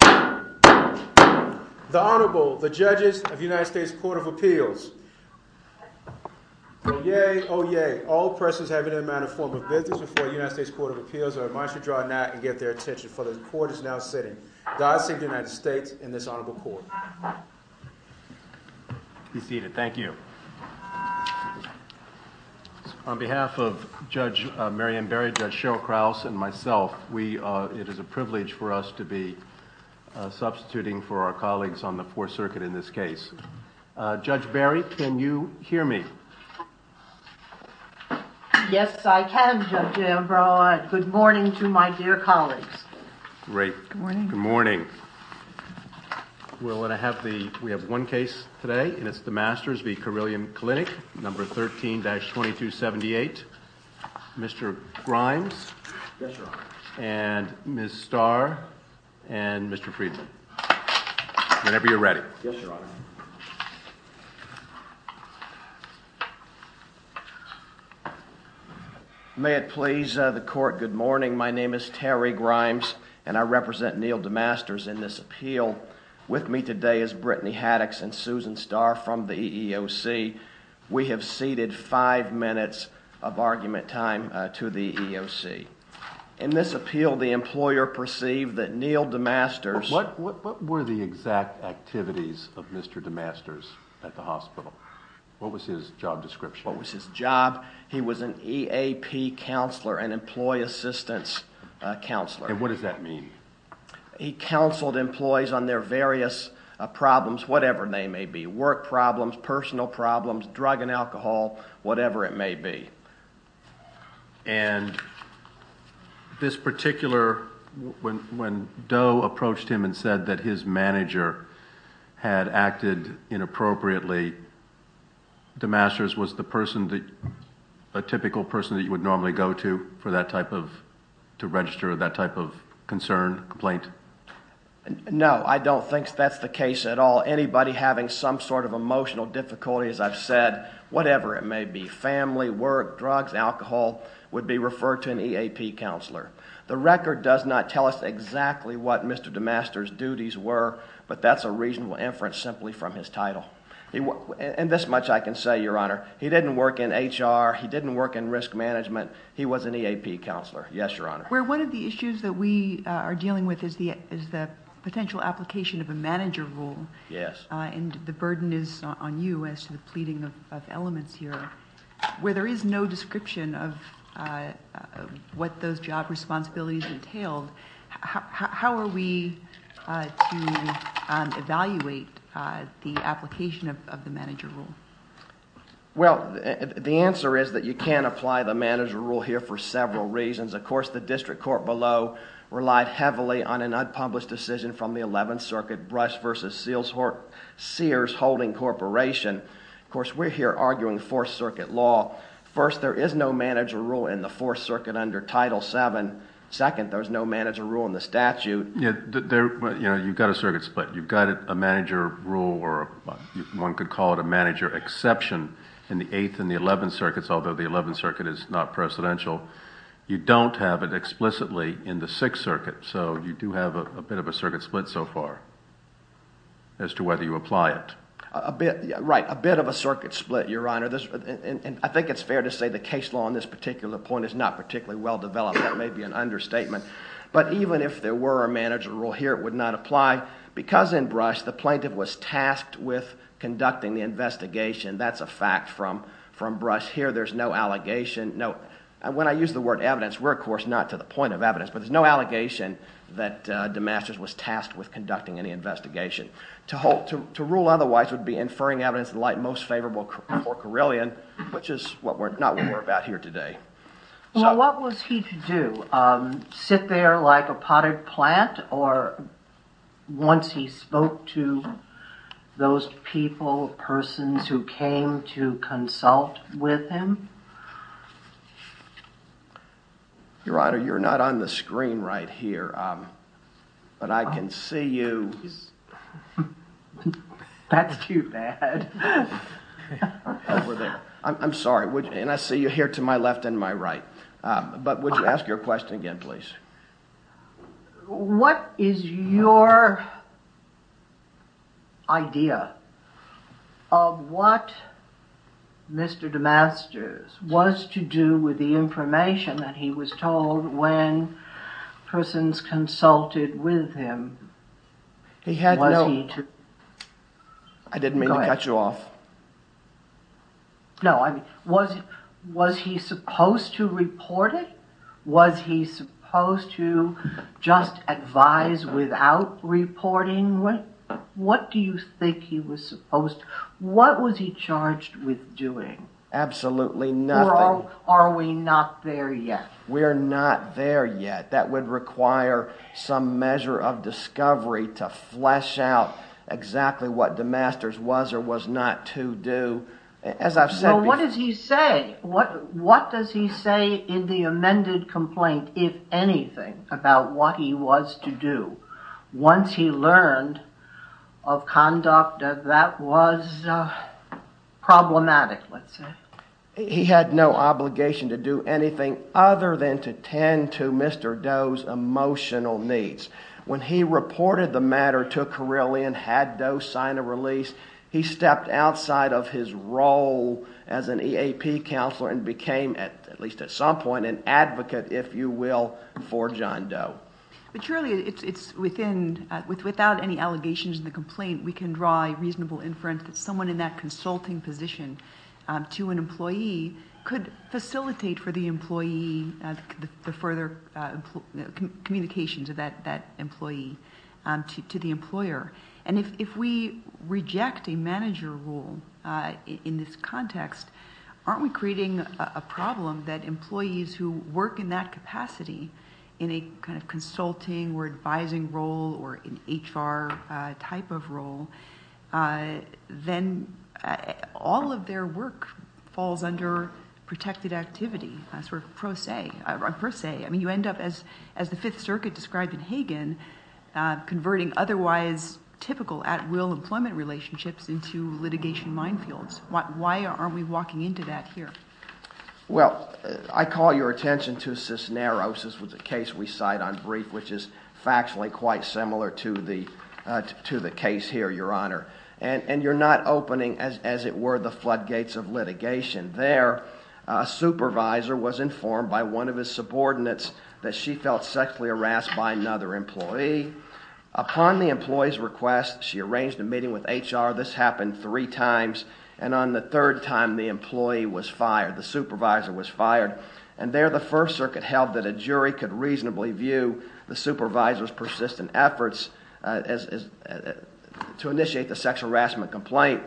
The Honorable, the Judges of the United States Court of Appeals. Oyez, oyez, all persons having in mind a form of business before the United States Court of Appeals are admonished to draw a nat and get their attention, for the Court is now sitting. God save the United States and this Honorable Court. Be seated. Thank you. On behalf of Judge Mary Ann Barry, Judge Cheryl Krause, and myself, it is a privilege for us to be substituting for our colleagues on the Fourth Circuit in this case. Judge Barry, can you hear me? Yes, I can, Judge Ambrose. Good morning to my dear colleagues. Great. Good morning. We have one case today, and it's DeMasters v. Carilion Clinic, number 13-2278. Mr. Grimes? Yes, Your Honor. And Ms. Starr? And Mr. Friedman? Whenever you're ready. Yes, Your Honor. May it please the Court, good morning. My name is Terry Grimes, and I represent Neal DeMasters in this appeal. With me today is Brittany Haddox and Susan Starr from the EEOC. We have ceded five minutes of argument time to the EEOC. In this appeal, the employer perceived that Neal DeMasters What were the exact activities of Mr. DeMasters at the hospital? What was his job description? What was his job? He was an EAP counselor, an employee assistance counselor. And what does that mean? He counseled employees on their various problems, whatever they may be, work problems, personal problems, drug and alcohol, whatever it may be. And this particular, when Doe approached him and said that his manager had acted inappropriately, DeMasters was the person, a typical person that you would normally go to for that type of, to register that type of concern, complaint? No, I don't think that's the case at all. Anybody having some sort of emotional difficulty, as I've said, whatever it may be, family, work, drugs, alcohol, would be referred to an EAP counselor. The record does not tell us exactly what Mr. DeMasters duties were, but that's a reasonable inference simply from his title. And this much I can say, Your Honor, he didn't work in HR. He didn't work in risk management. He was an EAP counselor. Yes, Your Honor. Where one of the issues that we are dealing with is the potential application of a manager rule. Yes. And the burden is on you as to the pleading of elements here. Where there is no description of what those job responsibilities entailed, how are we to evaluate the application of the manager rule? Well, the answer is that you can't apply the manager rule here for several reasons. Of course, the district court below relied heavily on an unpublished decision from the 11th Circuit Brush v. Sears Holding Corporation. Of course, we're here arguing 4th Circuit law. First, there is no manager rule in the 4th Circuit under Title VII. Second, there's no manager rule in the statute. You've got a circuit split. You've got a manager rule or one could call it a manager exception in the 8th and the 11th Circuits, although the 11th Circuit is not precedential. You don't have it explicitly in the 6th Circuit, so you do have a bit of a circuit split so far as to whether you apply it. Right, a bit of a circuit split, Your Honor. And I think it's fair to say the case law on this particular point is not particularly well developed. That may be an understatement. But even if there were a manager rule here, it would not apply because in Brush, the plaintiff was tasked with conducting the investigation. That's a fact from Brush. Here, there's no allegation. Now, when I use the word evidence, we're, of course, not to the point of evidence, but there's no allegation that DeMasters was tasked with conducting any investigation. To rule otherwise would be inferring evidence in the light most favorable for Carillion, which is not what we're about here today. Well, what was he to do? Sit there like a potted plant or once he spoke to those people, persons who came to consult with him? Your Honor, you're not on the screen right here, but I can see you. That's too bad. Over there. I'm sorry. And I see you here to my left and my right. But would you ask your question again, please? What is your idea of what Mr. DeMasters was to do with the information that he was told when persons consulted with him? I didn't mean to cut you off. No, I mean, was he supposed to report it? Was he supposed to just advise without reporting? What do you think he was supposed to? What was he charged with doing? Absolutely nothing. Or are we not there yet? We're not there yet. That would require some measure of discovery to flesh out exactly what DeMasters was or was not to do. So what does he say? What does he say in the amended complaint, if anything, about what he was to do once he learned of conduct that was problematic, let's say? He had no obligation to do anything other than to tend to Mr. Doe's emotional needs. When he reported the matter to Carilion, had Doe sign a release, he stepped outside of his role as an EAP counselor and became, at least at some point, an advocate, if you will, for John Doe. But surely it's within, without any allegations in the complaint, we can draw a reasonable inference that someone in that consulting position to an employee could facilitate for the employee the further communications of that employee to the employer. And if we reject a manager role in this context, aren't we creating a problem that employees who work in that capacity in a kind of consulting or advising role or an HR type of role, then all of their work falls under protected activity, sort of pro se. I mean, you end up, as the Fifth Circuit described in Hagan, converting otherwise typical at-will employment relationships into litigation minefields. Why aren't we walking into that here? Well, I call your attention to Cisneros. This was a case we cite on brief, which is factually quite similar to the case here, Your Honor. And you're not opening, as it were, the floodgates of litigation. There, a supervisor was informed by one of his subordinates that she felt sexually harassed by another employee. Upon the employee's request, she arranged a meeting with HR. This happened three times. And on the third time, the employee was fired, the supervisor was fired. And there, the First Circuit held that a jury could reasonably view the supervisor's persistent efforts to initiate the sexual harassment complaint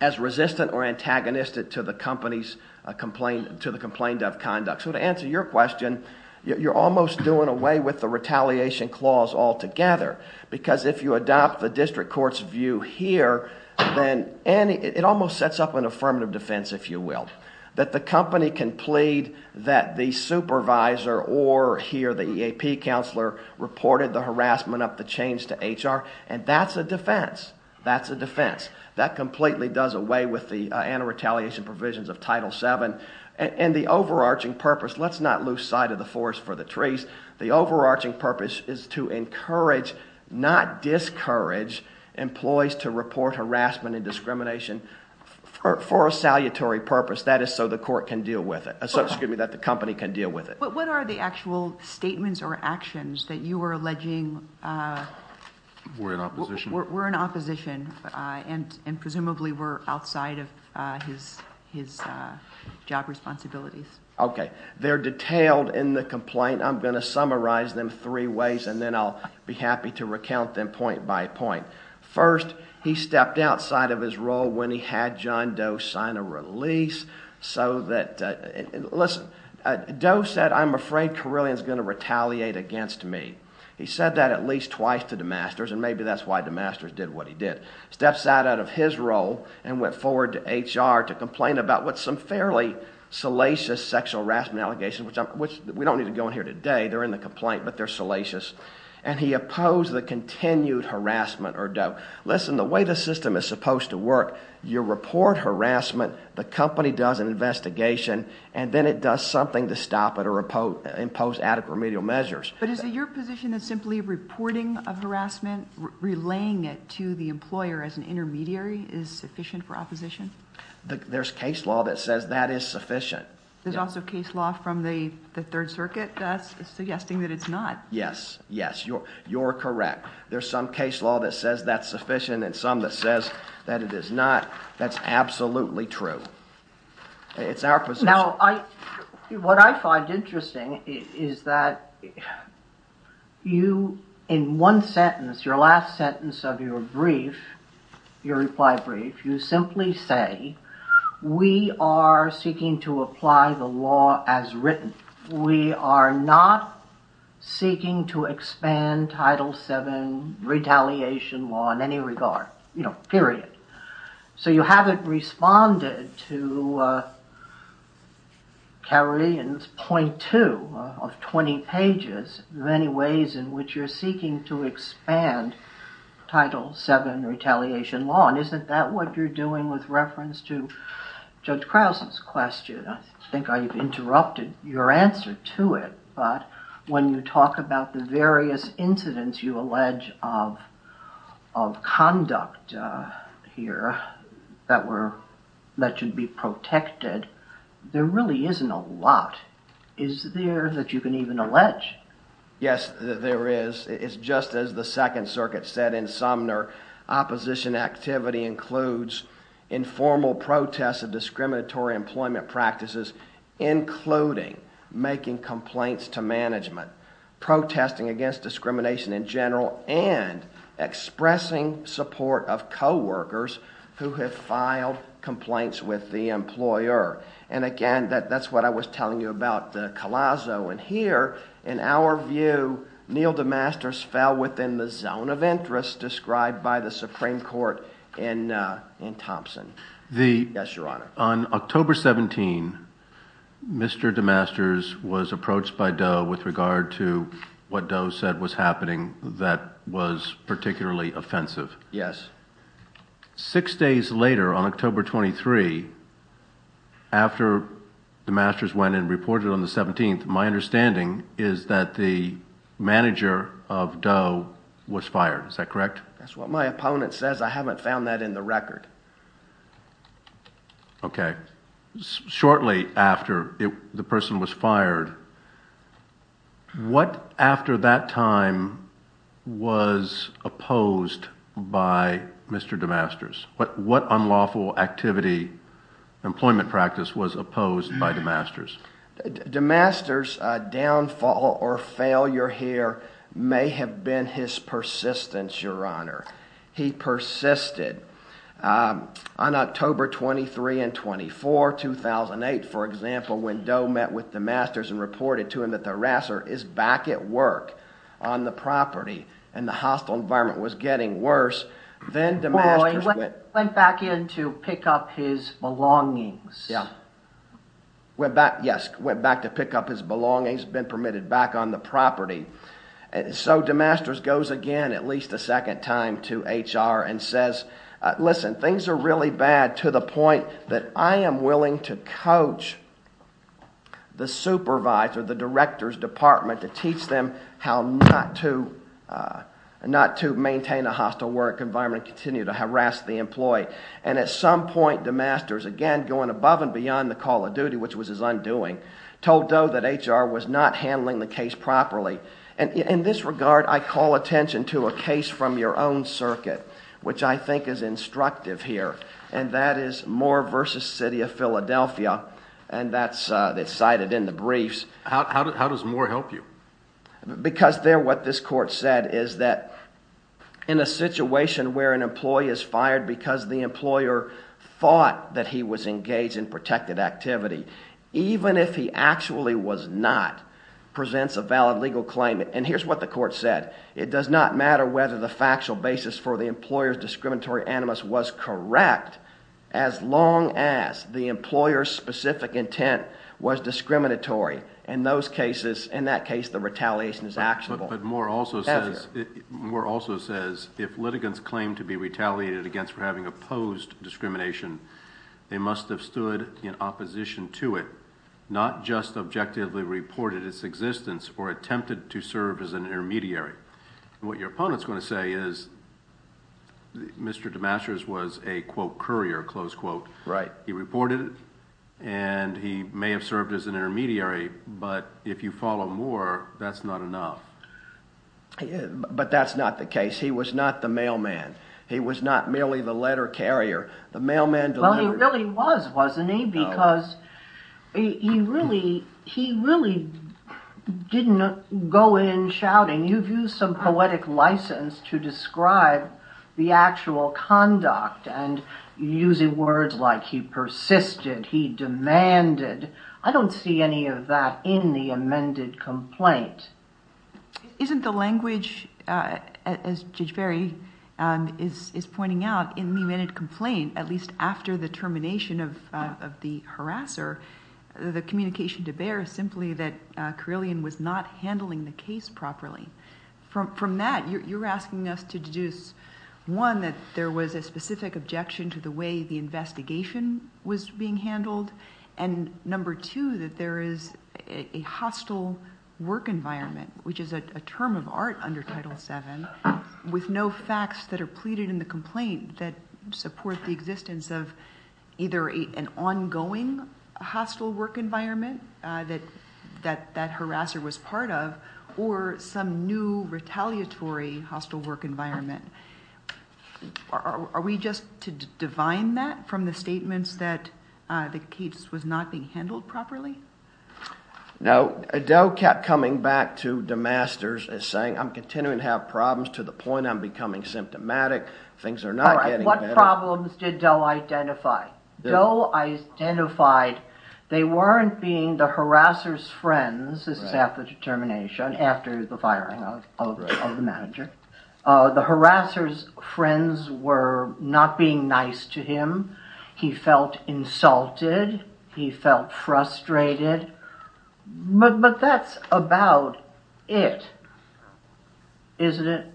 as resistant or antagonistic to the complaint of conduct. So to answer your question, you're almost doing away with the retaliation clause altogether. Because if you adopt the district court's view here, then it almost sets up an affirmative defense, if you will. That the company can plead that the supervisor or here the EAP counselor reported the harassment of the change to HR, and that's a defense. That's a defense. That completely does away with the anti-retaliation provisions of Title VII. And the overarching purpose, let's not lose sight of the forest for the trees. The overarching purpose is to encourage, not discourage, employees to report harassment and discrimination for a salutary purpose. That is so the court can deal with it. So, excuse me, that the company can deal with it. But what are the actual statements or actions that you are alleging? We're in opposition. We're in opposition, and presumably we're outside of his job responsibilities. Okay. They're detailed in the complaint. I'm going to summarize them three ways, and then I'll be happy to recount them point by point. First, he stepped outside of his role when he had John Doe sign a release. Listen, Doe said, I'm afraid Carilion is going to retaliate against me. He said that at least twice to DeMasters, and maybe that's why DeMasters did what he did. He stepped outside of his role and went forward to HR to complain about what's some fairly salacious sexual harassment allegations, which we don't need to go in here today. They're in the complaint, but they're salacious. Listen, the way the system is supposed to work, you report harassment, the company does an investigation, and then it does something to stop it or impose adequate remedial measures. But is it your position that simply reporting of harassment, relaying it to the employer as an intermediary is sufficient for opposition? There's case law that says that is sufficient. There's also case law from the Third Circuit that's suggesting that it's not. Yes, yes, you're correct. There's some case law that says that's sufficient and some that says that it is not. That's absolutely true. It's our position. Now, what I find interesting is that you, in one sentence, your last sentence of your brief, your reply brief, you simply say, we are seeking to apply the law as written. We are not seeking to expand Title VII retaliation law in any regard. You know, period. So you haven't responded to Kerry in point two of 20 pages many ways in which you're seeking to expand Title VII retaliation law. And isn't that what you're doing with reference to Judge Krause's question? I think I've interrupted your answer to it. But when you talk about the various incidents you allege of conduct here that should be protected, there really isn't a lot. Is there that you can even allege? Yes, there is. It's just as the Second Circuit said in Sumner, opposition activity includes informal protests of discriminatory employment practices, including making complaints to management, protesting against discrimination in general, and expressing support of coworkers who have filed complaints with the employer. And, again, that's what I was telling you about the Collazo. And here, in our view, Neal DeMasters fell within the zone of interest described by the Supreme Court in Thompson. Yes, Your Honor. On October 17, Mr. DeMasters was approached by Doe with regard to what Doe said was happening that was particularly offensive. Yes. Six days later, on October 23, after DeMasters went and reported on the 17th, my understanding is that the manager of Doe was fired. Is that correct? That's what my opponent says. I haven't found that in the record. Okay. Shortly after the person was fired, what, after that time, was opposed by Mr. DeMasters? What unlawful activity, employment practice, was opposed by DeMasters? DeMasters' downfall or failure here may have been his persistence, Your Honor. He persisted. On October 23 and 24, 2008, for example, when Doe met with DeMasters and reported to him that the harasser is back at work on the property and the hostile environment was getting worse, then DeMasters went— Well, he went back in to pick up his belongings. Yeah. Went back, yes, went back to pick up his belongings, been permitted back on the property. So DeMasters goes again at least a second time to HR and says, listen, things are really bad to the point that I am willing to coach the supervisor, the director's department, to teach them how not to maintain a hostile work environment and continue to harass the employee. And at some point, DeMasters, again, going above and beyond the call of duty, which was his undoing, told Doe that HR was not handling the case properly. And in this regard, I call attention to a case from your own circuit, which I think is instructive here, and that is Moore v. City of Philadelphia, and that's cited in the briefs. How does Moore help you? Because there what this court said is that in a situation where an employee is fired because the employer thought that he was engaged in protected activity, even if he actually was not, presents a valid legal claim. And here's what the court said. It does not matter whether the factual basis for the employer's discriminatory animus was correct as long as the employer's specific intent was discriminatory. In those cases, in that case, the retaliation is actionable. But Moore also says if litigants claim to be retaliated against for having opposed discrimination, they must have stood in opposition to it, not just objectively reported its existence or attempted to serve as an intermediary. What your opponent's going to say is Mr. DeMasters was a, quote, courier, close quote. Right. He reported it, and he may have served as an intermediary, but if you follow Moore, that's not enough. But that's not the case. He was not the mailman. He was not merely the letter carrier. Well, he really was, wasn't he? Because he really didn't go in shouting. You've used some poetic license to describe the actual conduct and using words like he persisted, he demanded. I don't see any of that in the amended complaint. Isn't the language, as Judge Ferry is pointing out, in the amended complaint, at least after the termination of the harasser, the communication to bear is simply that Carillion was not handling the case properly. From that, you're asking us to deduce, one, that there was a specific objection to the way the investigation was being handled, and number two, that there is a hostile work environment, which is a term of art under Title VII, with no facts that are pleaded in the complaint that support the existence of either an ongoing hostile work environment that that harasser was part of, or some new retaliatory hostile work environment. Are we just to divine that from the statements that the case was not being handled properly? No. Doe kept coming back to DeMasters and saying, I'm continuing to have problems to the point I'm becoming symptomatic. Things are not getting better. What problems did Doe identify? Doe identified they weren't being the harasser's friends, this is after the termination, after the firing of the manager. The harasser's friends were not being nice to him. He felt insulted. He felt frustrated. But that's about it, isn't it?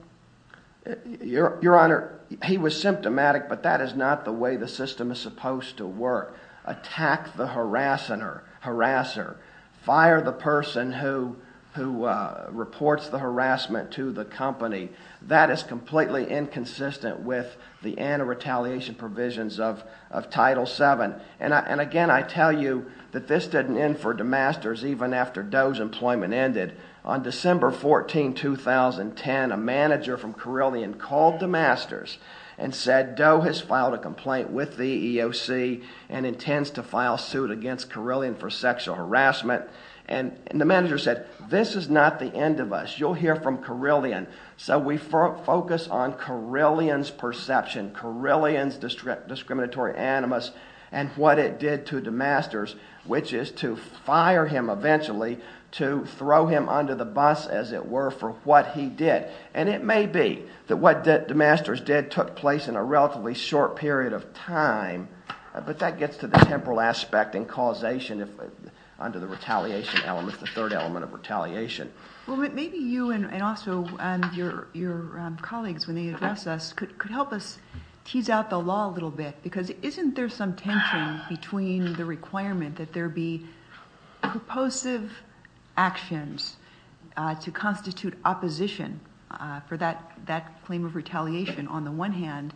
Your Honor, he was symptomatic, but that is not the way the system is supposed to work. Attack the harasser. Fire the person who reports the harassment to the company. That is completely inconsistent with the anti-retaliation provisions of Title VII. And again, I tell you that this didn't end for DeMasters even after Doe's employment ended. On December 14, 2010, a manager from Carilion called DeMasters and said, Doe has filed a complaint with the EEOC and intends to file suit against Carilion for sexual harassment. And the manager said, this is not the end of us. You'll hear from Carilion. So we focus on Carilion's perception, Carilion's discriminatory animus and what it did to DeMasters, which is to fire him eventually, to throw him under the bus, as it were, for what he did. And it may be that what DeMasters did took place in a relatively short period of time, but that gets to the temporal aspect and causation under the retaliation element, the third element of retaliation. Well, maybe you and also your colleagues, when they address us, could help us tease out the law a little bit. Because isn't there some tension between the requirement that there be purposive actions to constitute opposition for that claim of retaliation, on the one hand,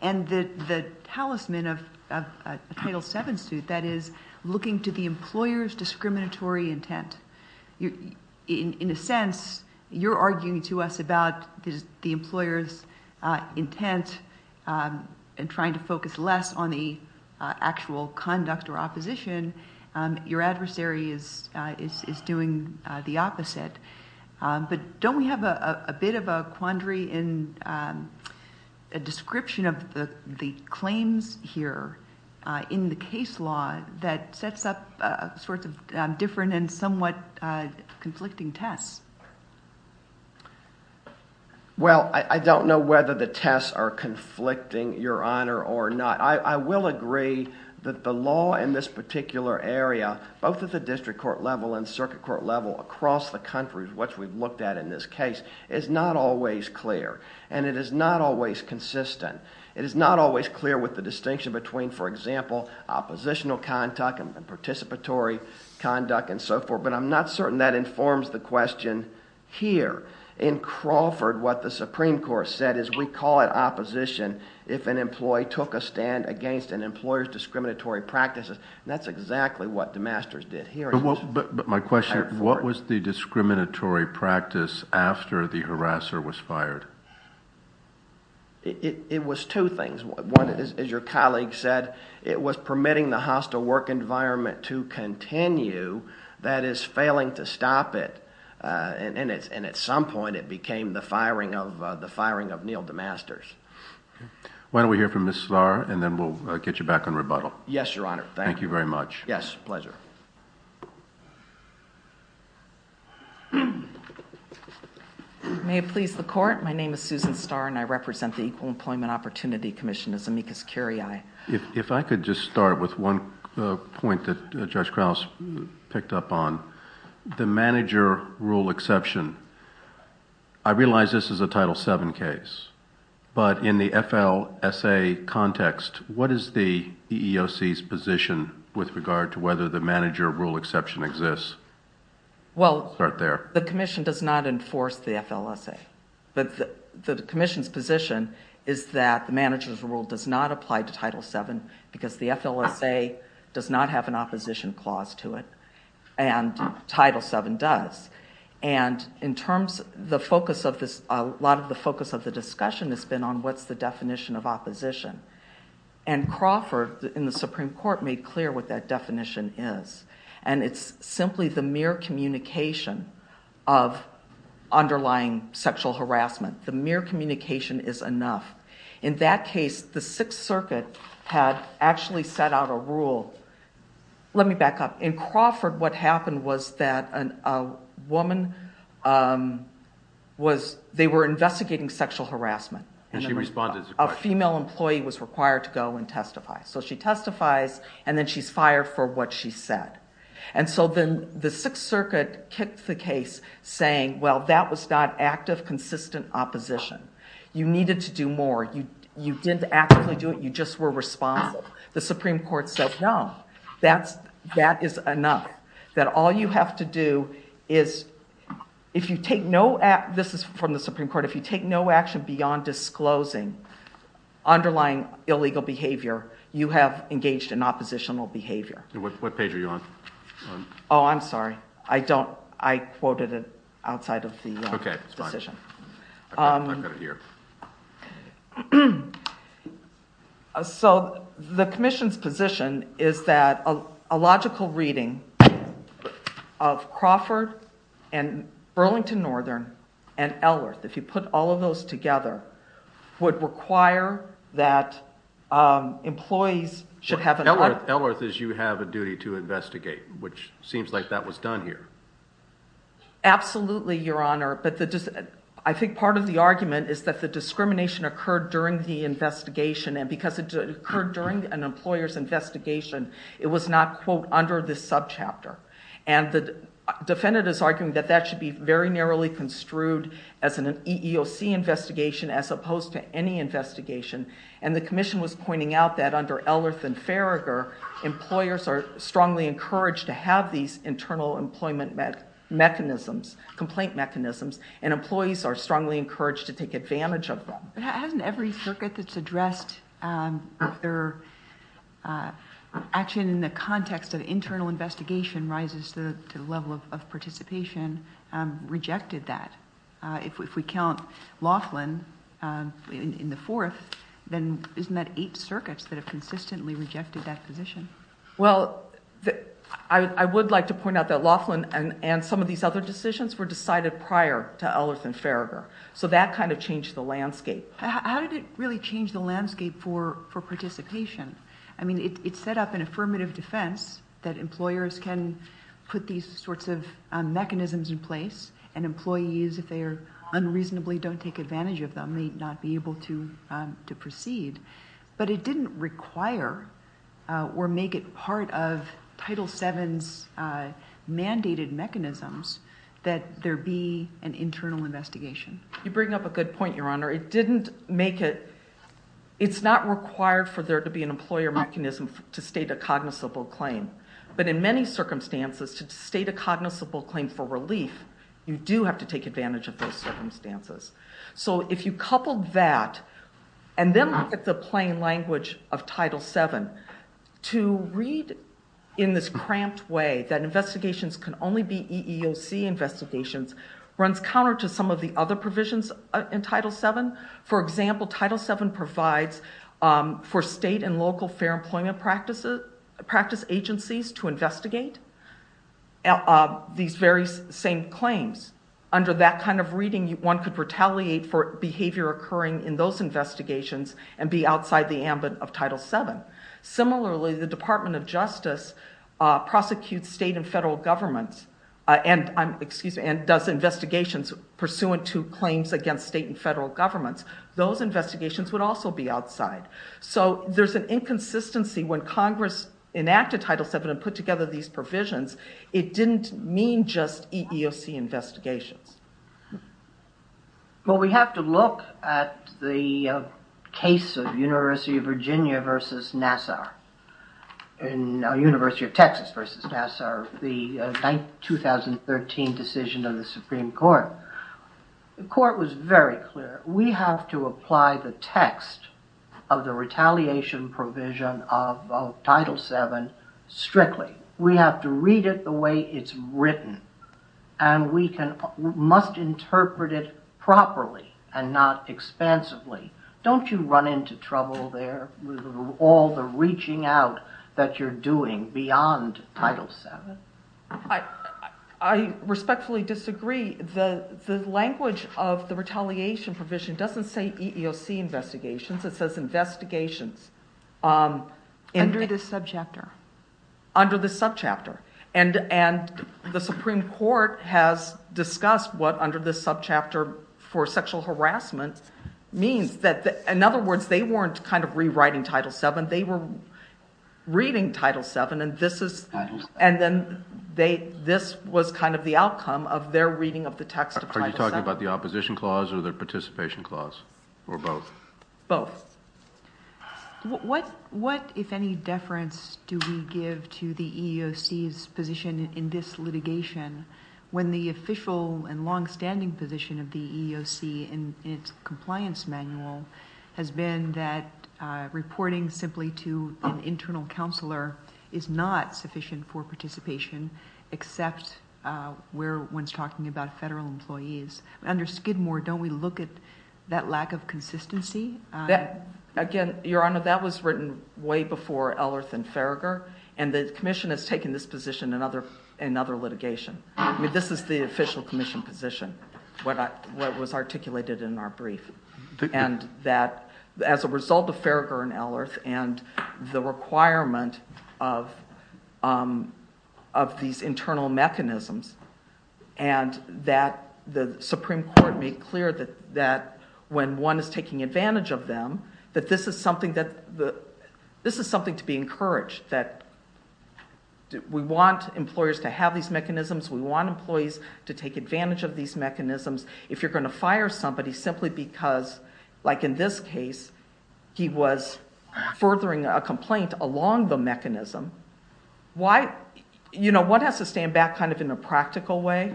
and the talisman of a Title VII suit, that is, looking to the employer's discriminatory intent? In a sense, you're arguing to us about the employer's intent and trying to focus less on the actual conduct or opposition. Your adversary is doing the opposite. But don't we have a bit of a quandary in a description of the claims here in the case law that sets up different and somewhat conflicting tests? Well, I don't know whether the tests are conflicting, Your Honor, or not. I will agree that the law in this particular area, both at the district court level and circuit court level across the country, which we've looked at in this case, is not always clear. And it is not always consistent. It is not always clear with the distinction between, for example, oppositional conduct and participatory conduct and so forth. But I'm not certain that informs the question here. In Crawford, what the Supreme Court said is we call it opposition if an employee took a stand against an employer's discriminatory practices. And that's exactly what DeMasters did here. But my question, what was the discriminatory practice after the harasser was fired? It was two things. One, as your colleague said, it was permitting the hostile work environment to continue that is failing to stop it. And at some point, it became the firing of Neil DeMasters. Why don't we hear from Ms. Starr, and then we'll get you back on rebuttal. Yes, Your Honor. Thank you very much. Yes, pleasure. May it please the Court, my name is Susan Starr, and I represent the Equal Employment Opportunity Commission as amicus curiae. If I could just start with one point that Judge Krauss picked up on, the manager rule exception. I realize this is a Title VII case. But in the FLSA context, what is the EEOC's position with regard to whether the manager rule exception exists? Well, the commission does not enforce the FLSA. But the commission's position is that the manager's rule does not apply to Title VII because the FLSA does not have an opposition clause to it, and Title VII does. And a lot of the focus of the discussion has been on what's the definition of opposition. And Crawford, in the Supreme Court, made clear what that definition is. And it's simply the mere communication of underlying sexual harassment. The mere communication is enough. In that case, the Sixth Circuit had actually set out a rule. Let me back up. In Crawford, what happened was that they were investigating sexual harassment. A female employee was required to go and testify. So she testifies, and then she's fired for what she said. And so then the Sixth Circuit kicked the case, saying, well, that was not active, consistent opposition. You needed to do more. You didn't actively do it. You just were responsible. The Supreme Court said, no, that is enough. That all you have to do is, if you take no action, this is from the Supreme Court, if you take no action beyond disclosing underlying illegal behavior, you have engaged in oppositional behavior. And what page are you on? Oh, I'm sorry. I don't. I quoted it outside of the decision. OK, that's fine. I've got it here. So the commission's position is that a logical reading of Crawford and Burlington Northern and Ellerth, if you put all of those together, would require that employees should have an audit. Ellerth is you have a duty to investigate, which seems like that was done here. Absolutely, Your Honor. I think part of the argument is that the discrimination occurred during the investigation. And because it occurred during an employer's investigation, it was not, quote, under this subchapter. And the defendant is arguing that that should be very narrowly construed as an EEOC investigation as opposed to any investigation. And the commission was pointing out that under Ellerth and Farragher, employers are strongly encouraged to have these internal employment mechanisms, complaint mechanisms, and employees are strongly encouraged to take advantage of them. But hasn't every circuit that's addressed their action in the context of internal investigation rises to the level of participation rejected that? If we count Laughlin in the fourth, then isn't that eight circuits that have consistently rejected that position? Well, I would like to point out that Laughlin and some of these other decisions were decided prior to Ellerth and Farragher. So that kind of changed the landscape. How did it really change the landscape for participation? I mean, it set up an affirmative defense that employers can put these sorts of mechanisms in place and employees, if they unreasonably don't take advantage of them, may not be able to proceed. But it didn't require or make it part of Title VII's mandated mechanisms that there be an internal investigation. You bring up a good point, Your Honor. It didn't make it. It's not required for there to be an employer mechanism to state a cognizable claim. But in many circumstances, to state a cognizable claim for relief, you do have to take advantage of those circumstances. So if you couple that and then look at the plain language of Title VII, to read in this cramped way that investigations can only be EEOC investigations runs counter to some of the other provisions in Title VII. For example, Title VII provides for state and local fair employment practice agencies to investigate these very same claims. Under that kind of reading, one could retaliate for behavior occurring in those investigations and be outside the ambit of Title VII. Similarly, the Department of Justice prosecutes state and federal governments and does investigations pursuant to claims against state and federal governments. Those investigations would also be outside. So there's an inconsistency when Congress enacted Title VII and put together these provisions. It didn't mean just EEOC investigations. Well, we have to look at the case of University of Virginia versus Nassau, University of Texas versus Nassau, the 2013 decision of the Supreme Court. The court was very clear. We have to apply the text of the retaliation provision of Title VII strictly. We have to read it the way it's written, and we must interpret it properly and not expansively. Don't you run into trouble there with all the reaching out that you're doing beyond Title VII? I respectfully disagree. The language of the retaliation provision doesn't say EEOC investigations. It says investigations. Under the subjector. Under the subjector. And the Supreme Court has discussed what under the subjector for sexual harassment means. In other words, they weren't kind of rewriting Title VII. They were reading Title VII, and this was kind of the outcome of their reading of the text of Title VII. Are you talking about the opposition clause or the participation clause, or both? Both. What, if any, deference do we give to the EEOC's position in this litigation when the official and longstanding position of the EEOC in its compliance manual has been that reporting simply to an internal counselor is not sufficient for participation, except when one's talking about federal employees? Under Skidmore, don't we look at that lack of consistency? Again, Your Honor, that was written way before Ellerth and Farragher, and the commission has taken this position in other litigation. I mean, this is the official commission position, what was articulated in our brief, and that as a result of Farragher and Ellerth and the requirement of these internal mechanisms and that the Supreme Court made clear that when one is taking advantage of them, that this is something to be encouraged, that we want employers to have these mechanisms, we want employees to take advantage of these mechanisms. If you're going to fire somebody simply because, like in this case, he was furthering a complaint along the mechanism, one has to stand back kind of in a practical way.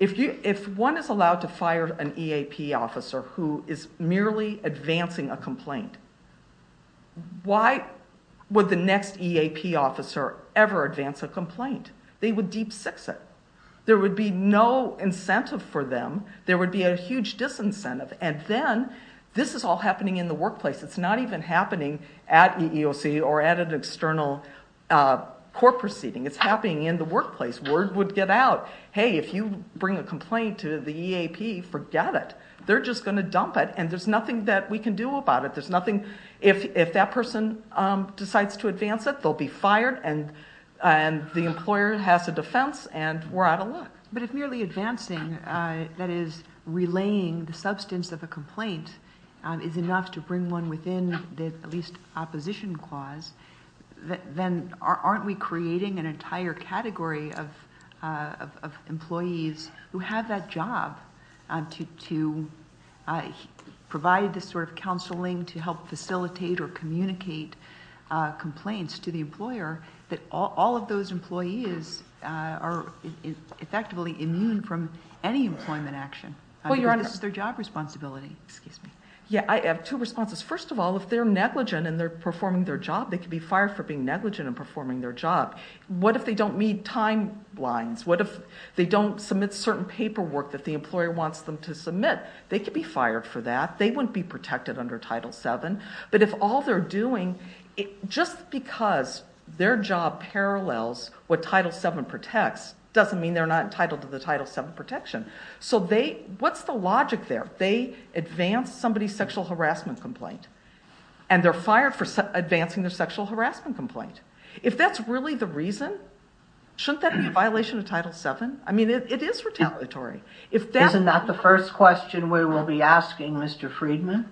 If one is allowed to fire an EAP officer who is merely advancing a complaint, why would the next EAP officer ever advance a complaint? They would deep-six it. There would be no incentive for them. There would be a huge disincentive, and then this is all happening in the workplace. It's not even happening at EEOC or at an external court proceeding. It's happening in the workplace. Word would get out, hey, if you bring a complaint to the EAP, forget it. They're just going to dump it, and there's nothing that we can do about it. If that person decides to advance it, they'll be fired, and the employer has a defense, and we're out of luck. But if merely advancing, that is, relaying the substance of a complaint, is enough to bring one within the at least opposition clause, then aren't we creating an entire category of employees who have that job to provide the sort of counseling to help facilitate or communicate complaints to the employer that all of those employees are effectively immune from any employment action? This is their job responsibility. Yeah, I have two responses. First of all, if they're negligent and they're performing their job, they could be fired for being negligent and performing their job. What if they don't meet timelines? What if they don't submit certain paperwork that the employer wants them to submit? They could be fired for that. They wouldn't be protected under Title VII. But if all they're doing, just because their job parallels what Title VII protects doesn't mean they're not entitled to the Title VII protection. So what's the logic there? They advanced somebody's sexual harassment complaint, and they're fired for advancing their sexual harassment complaint. If that's really the reason, shouldn't that be a violation of Title VII? I mean, it is retaliatory. Isn't that the first question we will be asking, Mr. Friedman?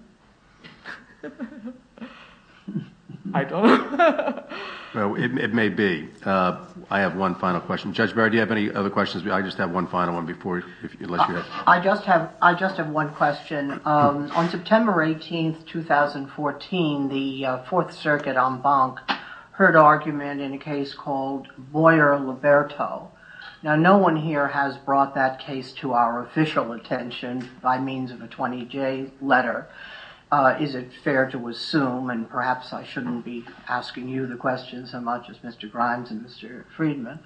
I don't... It may be. I have one final question. Judge Barry, do you have any other questions? I just have one final one before... I just have one question. On September 18, 2014, the Fourth Circuit en banc heard argument in a case called Boyer-Liberto. Now, no one here has brought that case to our official attention by means of a 20-J letter. Is it fair to assume, and perhaps I shouldn't be asking you the question so much as Mr. Grimes and Mr. Friedman,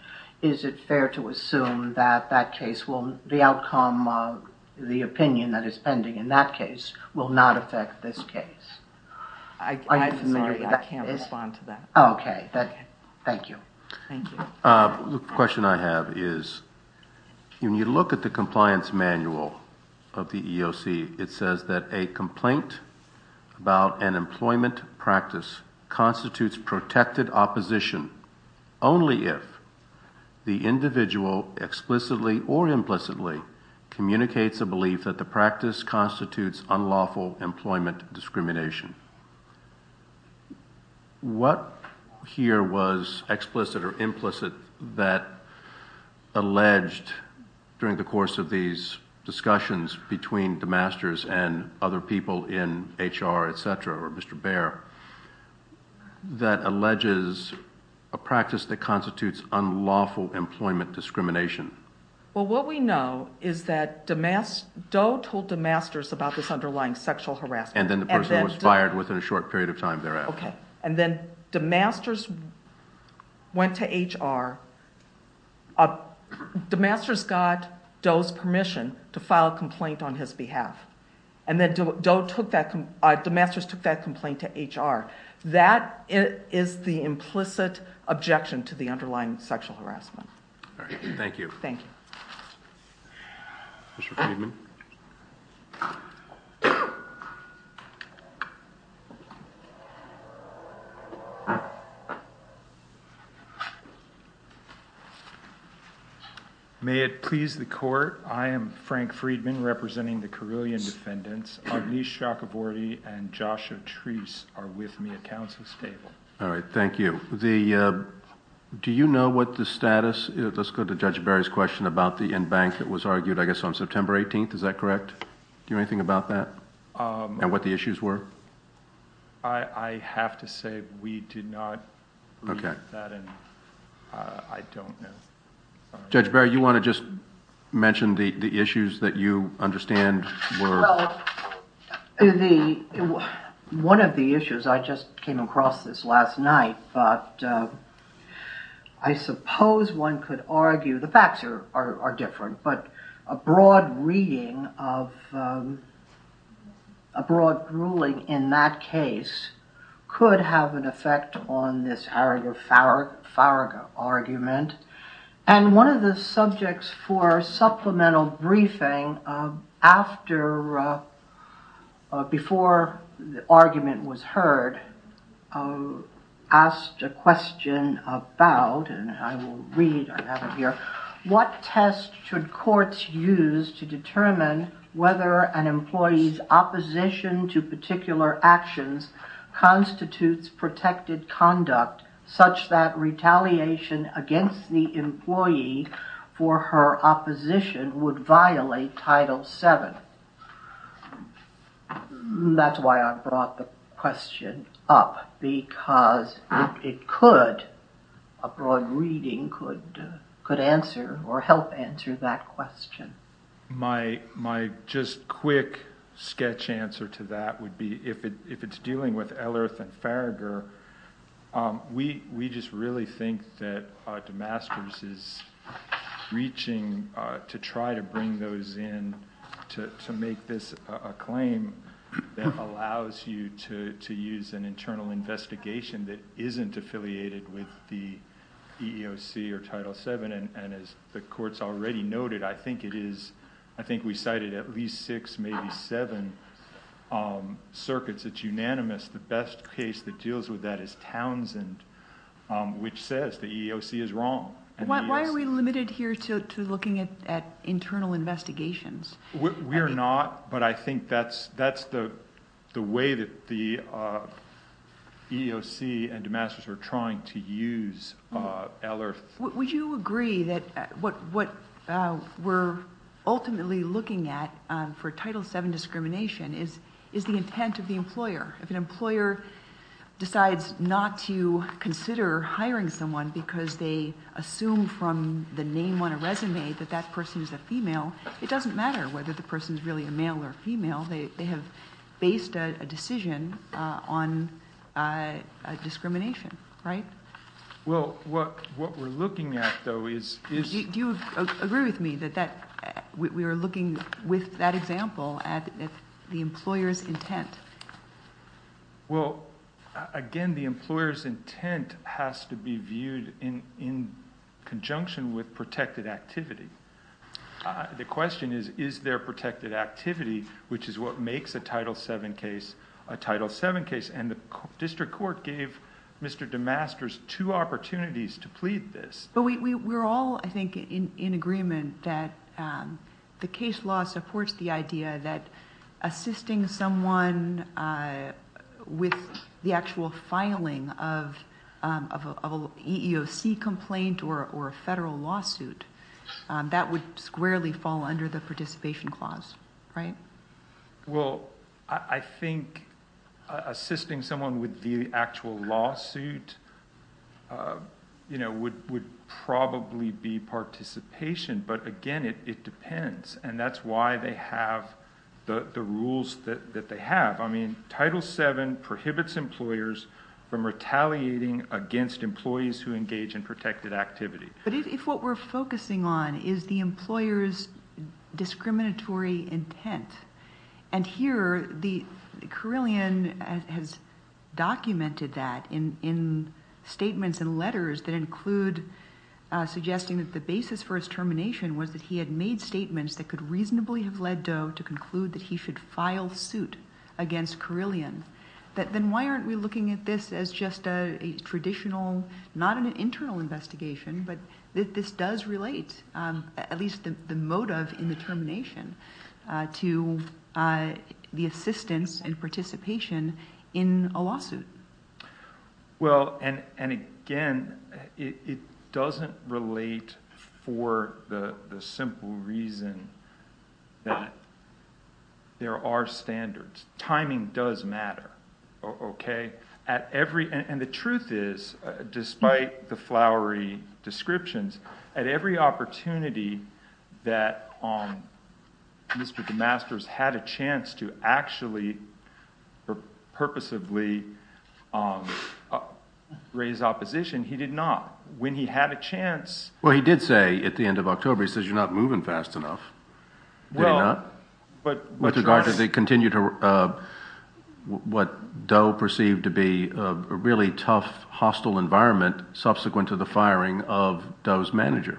is it fair to assume that that case will... the outcome of the opinion that is pending in that case will not affect this case? I'm sorry, I can't respond to that. Okay. Thank you. Thank you. The question I have is, when you look at the compliance manual of the EEOC, it says that a complaint about an employment practice constitutes protected opposition only if the individual explicitly or implicitly communicates a belief that the practice constitutes unlawful employment discrimination. What here was explicit or implicit that alleged during the course of these discussions between DeMasters and other people in HR, etc., or Mr. Baer, that alleges a practice that constitutes unlawful employment discrimination? Well, what we know is that DeMasters... Doe told DeMasters about this underlying sexual harassment. And then the person was fired within a short period of time thereafter. Okay. And then DeMasters went to HR... DeMasters got Doe's permission to file a complaint on his behalf. And then Doe took that... DeMasters took that complaint to HR. That is the implicit objection to the underlying sexual harassment. All right. Thank you. Thank you. Mr. Friedman? May it please the Court, I am Frank Friedman, representing the Carilion Defendants. Agnieszka Gabordy and Joshua Treese are with me at Council's table. All right. Thank you. Do you know what the status... Let's go to Judge Baer's question about the in-bank that was argued, I guess, on September 18th. Is that correct? Do you know anything about that and what the issues were? I have to say we did not read that. Okay. I don't know. Judge Baer, you want to just mention the issues that you understand were... One of the issues, I just came across this last night, but I suppose one could argue... The facts are different, but a broad reading of... A broad ruling in that case could have an effect on this Harroger-Farraga argument. One of the subjects for supplemental briefing, before the argument was heard, asked a question about... I will read. I have it here. What test should courts use to determine whether an employee's opposition to particular actions constitutes protected conduct, such that retaliation against the employee for her opposition would violate Title VII? That's why I brought the question up, because it could... A broad reading could answer or help answer that question. My just quick sketch answer to that would be, if it's dealing with Ellerth and Farrager, we just really think that Damascus is reaching to try to bring those in... To make this a claim that allows you to use an internal investigation that isn't affiliated with the EEOC or Title VII. As the courts already noted, I think we cited at least six, maybe seven circuits. It's unanimous. The best case that deals with that is Townsend, which says the EEOC is wrong. Why are we limited here to looking at internal investigations? We're not, but I think that's the way that the EEOC and Damascus are trying to use Ellerth. Would you agree that what we're ultimately looking at for Title VII discrimination is the intent of the employer? If an employer decides not to consider hiring someone because they assume from the name on a resume that that person is a female, it doesn't matter whether the person is really a male or female. They have based a decision on discrimination, right? Well, what we're looking at though is... Do you agree with me that we are looking with that example at the employer's intent? Well, again, the employer's intent has to be viewed in conjunction with protected activity. The question is, is there protected activity, which is what makes a Title VII case a Title VII case? The district court gave Mr. Damascus two opportunities to plead this. We're all, I think, in agreement that the case law supports the idea that assisting someone with the actual filing of an EEOC complaint or a federal lawsuit, that would squarely fall under the participation clause, right? Well, I think assisting someone with the actual lawsuit would probably be participation, but again, it depends. That's why they have the rules that they have. Title VII prohibits employers from retaliating against employees who engage in protected activity. But if what we're focusing on is the employer's discriminatory intent, and here the Carilion has documented that in statements and letters that include suggesting that the basis for his termination was that he had made statements that could reasonably have led Doe to conclude that he should file suit against Carilion, then why aren't we looking at this as just a traditional, not an internal investigation, but that this does relate, at least the motive in the termination, to the assistance and participation in a lawsuit? Well, and again, it doesn't relate for the simple reason that there are standards. Timing does matter, okay? And the truth is, despite the flowery descriptions, at every opportunity that Mr. DeMasters had a chance to actually or purposively raise opposition, he did not. When he had a chance— Well, he did say at the end of October, he says, you're not moving fast enough. Did he not? With regard to the continued—what Doe perceived to be a really tough, hostile environment subsequent to the firing of Doe's manager.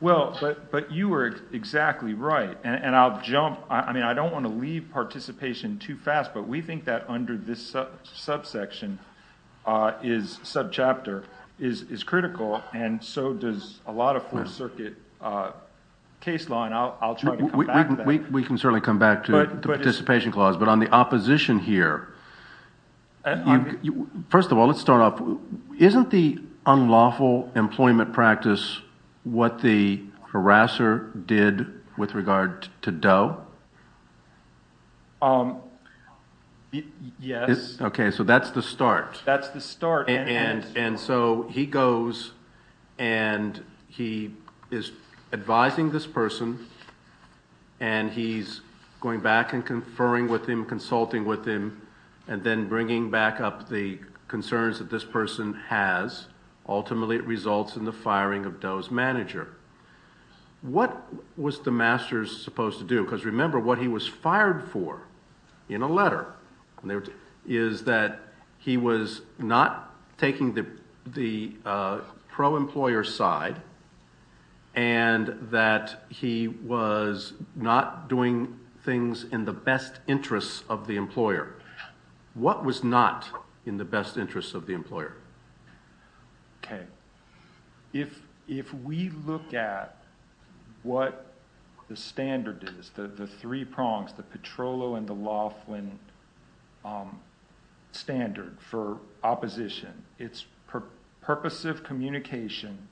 Well, but you were exactly right, and I'll jump—I mean, I don't want to leave participation too fast, but we think that under this subsection is—subchapter is critical, and so does a lot of Fourth Circuit case law, and I'll try to come back to that. We can certainly come back to the participation clause, but on the opposition here, first of all, let's start off. Isn't the unlawful employment practice what the harasser did with regard to Doe? Yes. Okay, so that's the start. That's the start. And so he goes and he is advising this person, and he's going back and conferring with him, consulting with him, and then bringing back up the concerns that this person has. Ultimately, it results in the firing of Doe's manager. What was the master supposed to do? Because remember, what he was fired for in a letter is that he was not taking the pro-employer side and that he was not doing things in the best interest of the employer. What was not in the best interest of the employer? Okay. If we look at what the standard is, the three prongs, the Petrollo and the Laughlin standard for opposition, it's purpose of communication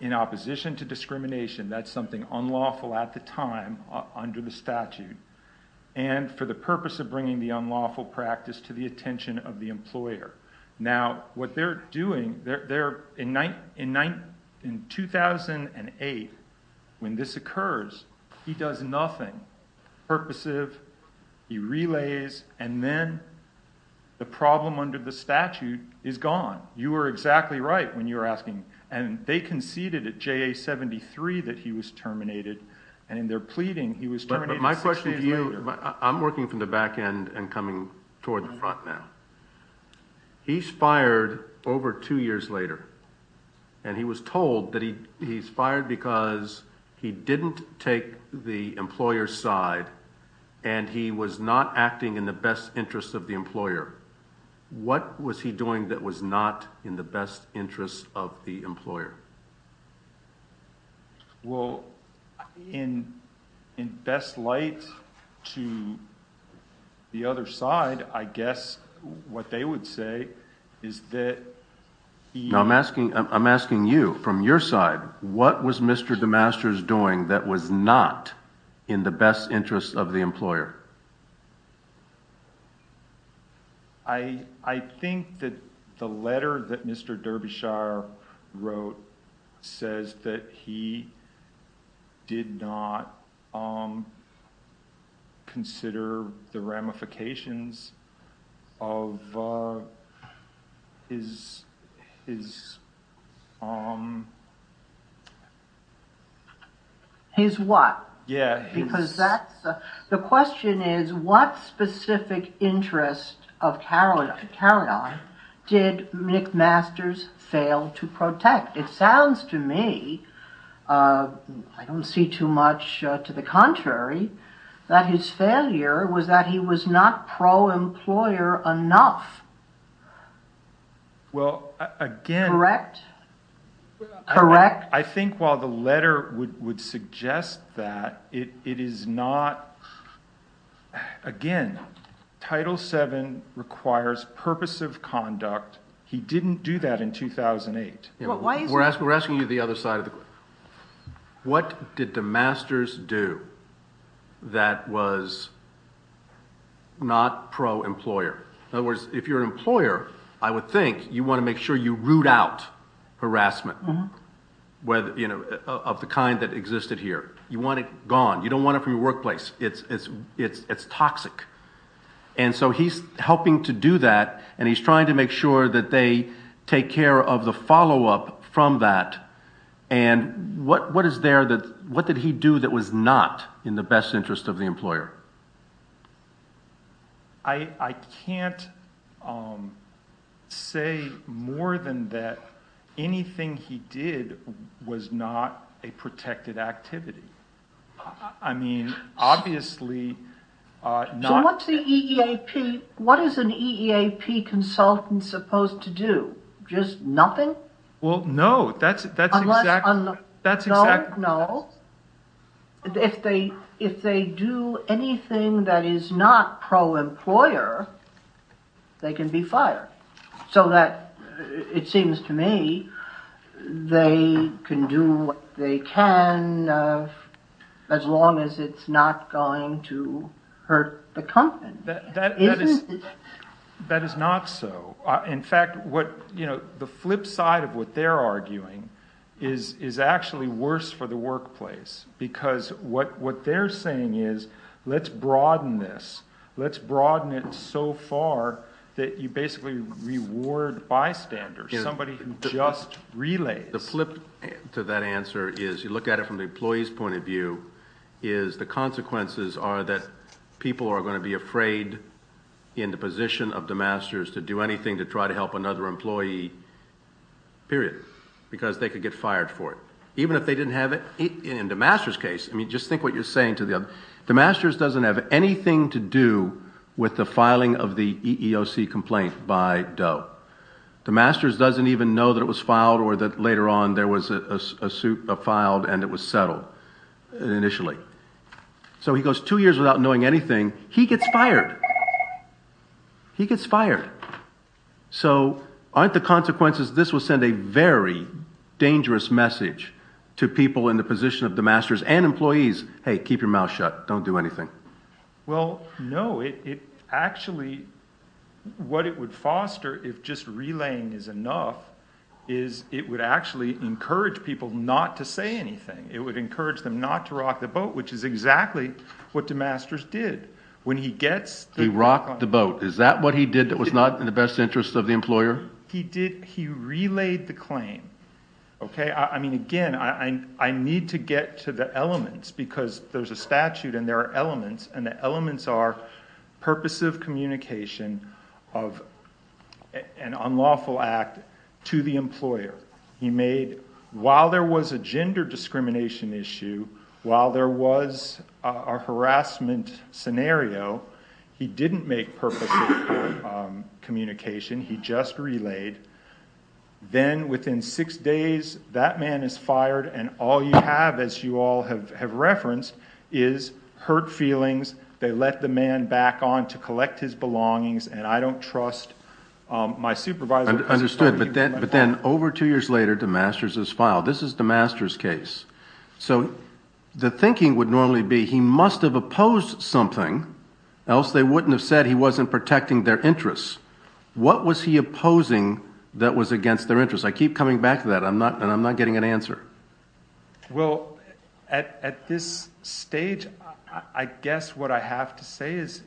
in opposition to discrimination. That's something unlawful at the time under the statute. And for the purpose of bringing the unlawful practice to the attention of the employer. Now, what they're doing, in 2008, when this occurs, he does nothing. Purposive, he relays, and then the problem under the statute is gone. You were exactly right when you were asking. And they conceded at JA73 that he was terminated. But my question to you, I'm working from the back end and coming toward the front now. He's fired over two years later. And he was told that he's fired because he didn't take the employer's side and he was not acting in the best interest of the employer. What was he doing that was not in the best interest of the employer? Well, in best light to the other side, I guess what they would say is that... I'm asking you, from your side, what was Mr. DeMaster's doing that was not in the best interest of the employer? I think that the letter that Mr. Derbyshire wrote says that he did not consider the ramifications of his... His what? Yeah. The question is, what specific interest of Carradine did Nick Masters fail to protect? It sounds to me, I don't see too much to the contrary, that his failure was that he was not pro-employer enough. Well, again... Correct? Correct? I think while the letter would suggest that, it is not... Again, Title VII requires purpose of conduct. He didn't do that in 2008. We're asking you the other side of the question. What did DeMasters do that was not pro-employer? In other words, if you're an employer, I would think you want to make sure you root out harassment. Of the kind that existed here. You want it gone. You don't want it from your workplace. It's toxic. And so he's helping to do that, and he's trying to make sure that they take care of the follow-up from that. And what is there that... What did he do that was not in the best interest of the employer? I can't say more than that anything he did was not a protected activity. I mean, obviously... So what's the EEAP... What is an EEAP consultant supposed to do? Just nothing? Well, no. That's exactly... Unless... No, no. If they do anything that is not pro-employer, they can be fired. So that, it seems to me, they can do what they can as long as it's not going to hurt the company. That is not so. In fact, the flip side of what they're arguing is actually worse for the workplace. Because what they're saying is, let's broaden this. Let's broaden it so far that you basically reward bystanders, somebody who just relays. The flip to that answer is, you look at it from the employee's point of view, is the consequences are that people are going to be afraid in the position of DEMASTERS to do anything to try to help another employee, period. Because they could get fired for it. Even if they didn't have it in DEMASTERS' case. I mean, just think what you're saying to the other... DEMASTERS doesn't have anything to do with the filing of the EEOC complaint by Doe. DEMASTERS doesn't even know that it was filed or that later on there was a suit filed and it was settled. Initially. So he goes two years without knowing anything. He gets fired. He gets fired. So, aren't the consequences this will send a very dangerous message to people in the position of DEMASTERS and employees. Hey, keep your mouth shut. Don't do anything. Well, no. It actually... What it would foster if just relaying is enough is it would actually encourage people not to say anything. It would encourage them not to rock the boat, which is exactly what DEMASTERS did. When he gets... He rocked the boat. Is that what he did that was not in the best interest of the employer? He did. He relayed the claim. Okay. I mean, again, I need to get to the elements because there's a statute and there are elements and the elements are purpose of communication of an unlawful act to the employer. He made... While there was a gender discrimination issue, while there was a harassment scenario, he didn't make purpose of communication. He just relayed. Then, within six days, that man is fired and all you have, as you all have referenced, is hurt feelings. They let the man back on to collect his belongings and I don't trust my supervisor... Understood. But then, over two years later, DEMASTERS is filed. This is DEMASTERS' case. So the thinking would normally be he must have opposed something else they wouldn't have said he wasn't protecting their interests. What was he opposing that was against their interests? I keep coming back to that and I'm not getting an answer. Well, at this stage, I guess what I have to say is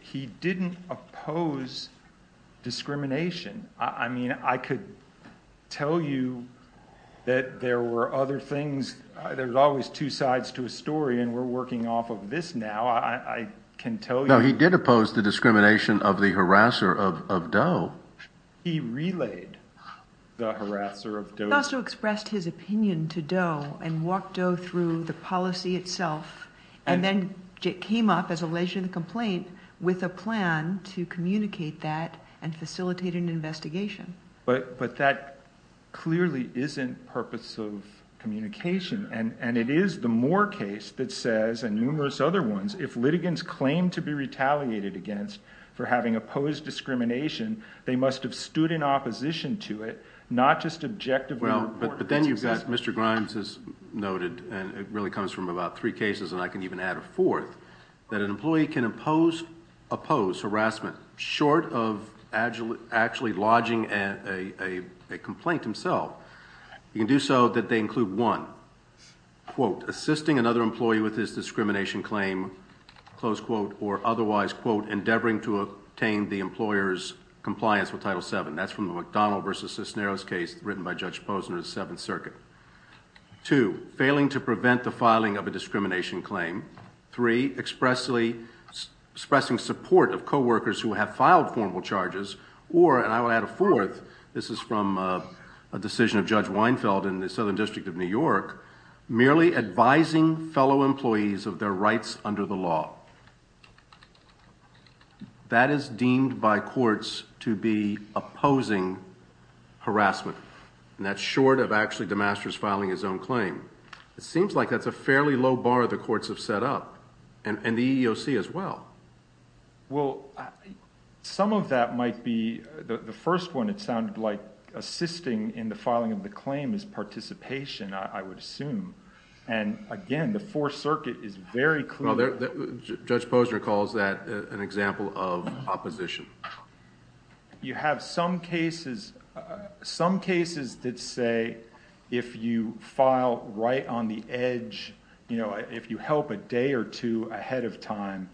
he didn't oppose discrimination. I mean, I could tell you that there were other things. There's always two sides to a story and we're working off of this now. I can tell you... No, he did oppose the discrimination of the harasser of Doe. He relayed the harasser of Doe. He also expressed his opinion to Doe and walked Doe through the policy itself and then came up, as a leisurely complaint, with a plan to communicate that and facilitate an investigation. But that clearly isn't purpose of communication and it is the Moore case that says, and numerous other ones, if litigants claim to be retaliated against for having opposed discrimination, they must have stood in opposition to it, not just objectively report it. But then you've got, Mr. Grimes has noted, and it really comes from about three cases and I can even add a fourth, that an employee can oppose harassment short of actually lodging a complaint himself. You can do so that they include, one, quote, assisting another employee with his discrimination claim, close quote, or otherwise, quote, endeavoring to obtain the employer's compliance with Title VII. That's from the McDonald v. Cisneros case written by Judge Posner of the Seventh Circuit. Two, failing to prevent the filing of a discrimination claim. Three, expressing support of co-workers who have filed formal charges, or, and I will add a fourth, this is from a decision of Judge Weinfeld in the Southern District of New York, merely advising fellow employees of their rights under the law. That is deemed by courts to be opposing harassment, and that's short of actually DeMasters filing his own claim. It seems like that's a fairly low bar the courts have set up, and the EEOC as well. Well, some of that might be, the first one it sounded like assisting in the filing of the claim is participation, I would assume. And again, the Fourth Circuit is very clear. Judge Posner calls that an example of opposition. You have some cases, some cases that say if you file right on the edge, if you help a day or two ahead of time,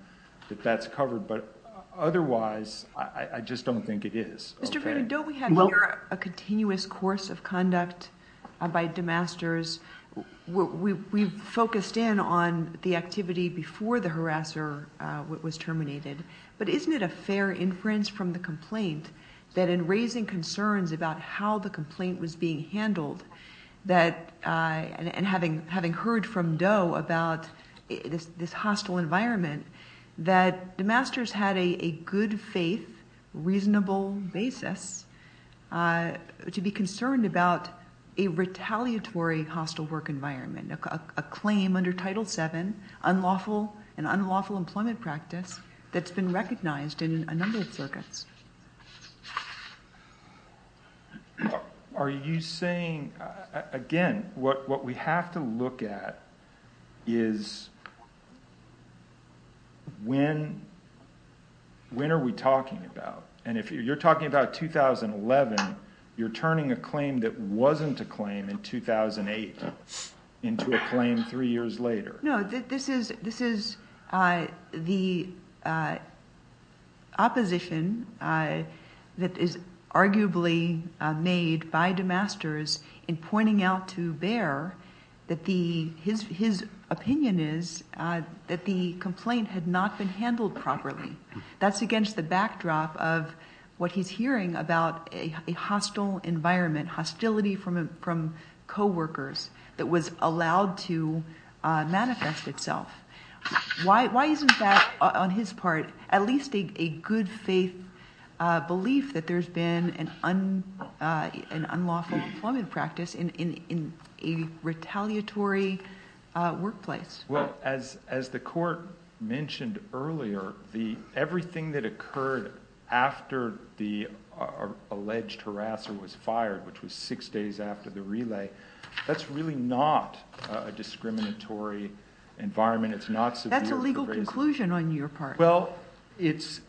that that's covered. But otherwise, I just don't think it is. Mr. Green, don't we have here a continuous course of conduct by DeMasters? We focused in on the activity before the harasser was terminated, but isn't it a fair inference from the complaint that in raising concerns about how the complaint was being handled, and having heard from Doe about this hostile environment, that DeMasters had a good faith, reasonable basis to be concerned about a retaliatory hostile work environment, a claim under Title VII, an unlawful employment practice Are you saying, again, what we have to look at is when are we talking about? And if you're talking about 2011, you're turning a claim that wasn't a claim in 2008 into a claim three years later. No, this is the opposition that is arguably made by DeMasters in pointing out to Bayer that his opinion is that the complaint had not been handled properly. That's against the backdrop of what he's hearing about a hostile environment, hostility from coworkers that was allowed to manifest itself. Why isn't that, on his part, at least a good faith belief that there's been an unlawful employment practice in a retaliatory workplace? Well, as the court mentioned earlier, everything that occurred after the alleged harasser was fired, which was six days after the relay, that's really not a discriminatory environment. That's a legal conclusion on your part. Well, it's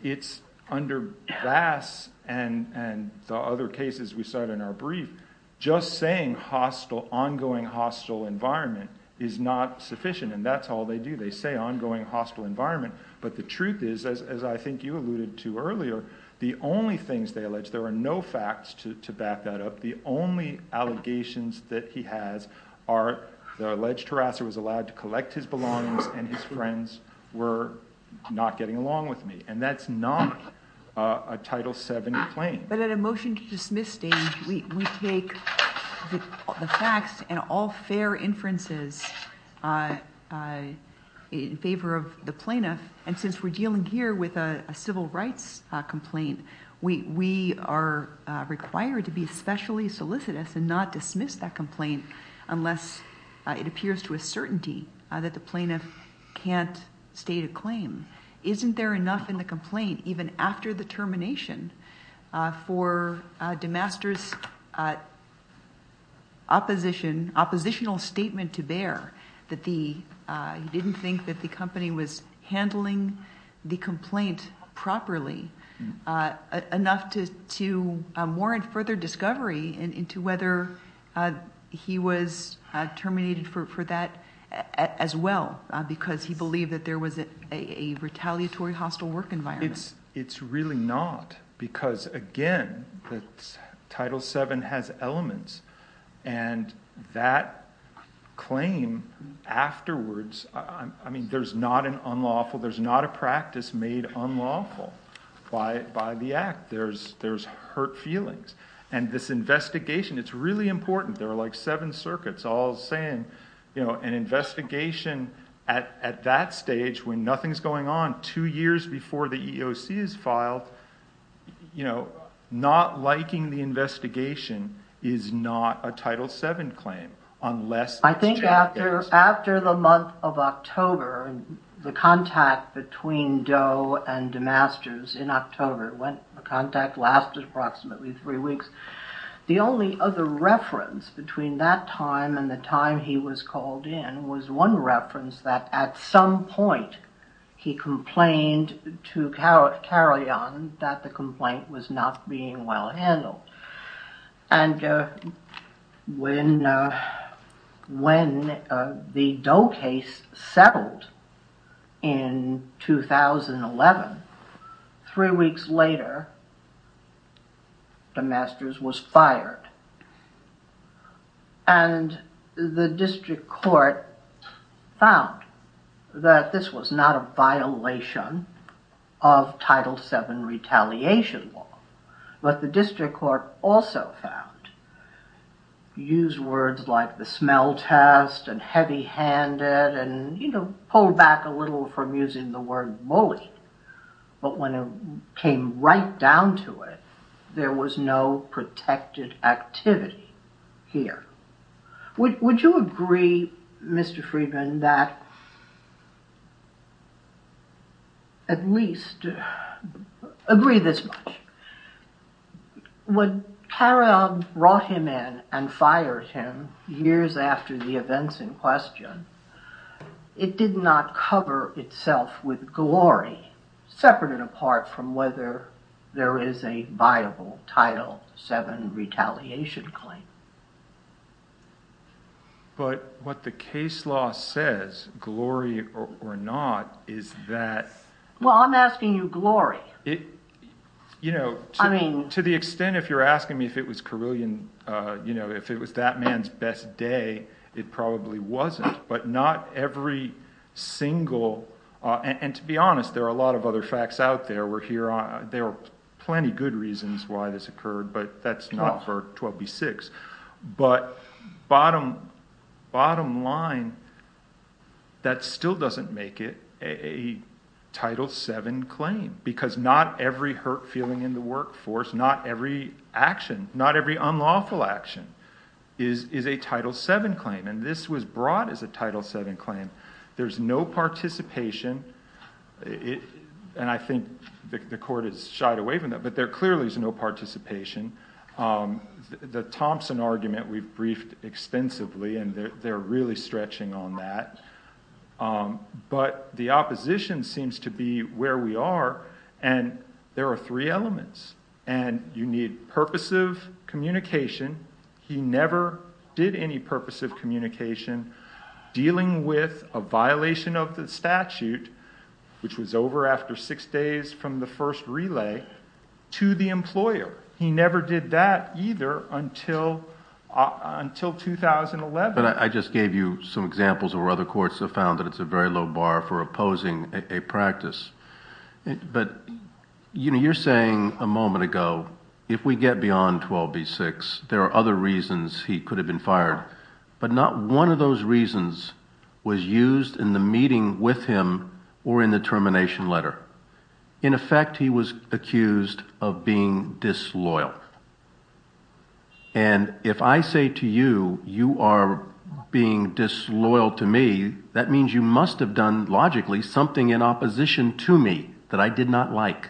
under Bass and the other cases we cite in our brief, just saying ongoing hostile environment is not sufficient, and that's all they do. They say ongoing hostile environment, but the truth is, as I think you alluded to earlier, the only things they allege, there are no facts to back that up, the only allegations that he has are the alleged harasser was allowed to collect his belongings and his friends were not getting along with me, and that's not a Title VII complaint. But at a motion to dismiss stage, we take the facts and all fair inferences in favor of the plaintiff, and since we're dealing here with a civil rights complaint, we are required to be especially solicitous and not dismiss that complaint unless it appears to a certainty that the plaintiff can't state a claim. Isn't there enough in the complaint, even after the termination, for DeMaster's oppositional statement to bear that he didn't think that the company was handling the complaint properly enough to warrant further discovery into whether he was terminated for that as well because he believed that there was a retaliatory hostile work environment? It's really not because, again, Title VII has elements, and that claim afterwards, I mean, there's not an unlawful, there's not a practice made unlawful by the act. There's hurt feelings. And this investigation, it's really important. There are like seven circuits all saying, you know, an investigation at that stage when nothing's going on, two years before the EEOC is filed, you know, not liking the investigation is not a Title VII claim unless... After the month of October, the contact between Doe and DeMaster's in October, the contact lasted approximately three weeks, the only other reference between that time and the time he was called in was one reference that at some point he complained to Carrion that the complaint was not being well handled. And when the Doe case settled in 2011, three weeks later, DeMaster's was fired. And the district court found that this was not a violation of Title VII retaliation law, but the district court also found, used words like the smell test and heavy-handed and, you know, pulled back a little from using the word bully. But when it came right down to it, there was no protected activity here. Would you agree, Mr. Friedman, that at least... Agree this much. When Carrion brought him in and fired him years after the events in question, it did not cover itself with glory, separate and apart from whether there is a viable Title VII retaliation claim. But what the case law says, glory or not, is that... Well, I'm asking you glory. You know, to the extent if you're asking me if it was Carrion, you know, if it was that man's best day, it probably wasn't. But not every single... And to be honest, there are a lot of other facts out there. There are plenty of good reasons why this occurred, but that's not for 12b-6. But bottom line, that still doesn't make it a Title VII claim, because not every hurt feeling in the workforce, not every action, not every unlawful action is a Title VII claim. And this was brought as a Title VII claim. There's no participation. And I think the court has shied away from that, but there clearly is no participation. The Thompson argument we've briefed extensively, and they're really stretching on that. But the opposition seems to be where we are, and there are three elements. And you need purposive communication. He never did any purposive communication. Dealing with a violation of the statute, which was over after six days from the first relay, to the employer. He never did that either until 2011. But I just gave you some examples where other courts have found that it's a very low bar for opposing a practice. But you're saying a moment ago, if we get beyond 12b-6, there are other reasons he could have been fired. But not one of those reasons was used in the meeting with him or in the termination letter. In effect, he was accused of being disloyal. And if I say to you, you are being disloyal to me, that means you must have done, logically, something in opposition to me that I did not like.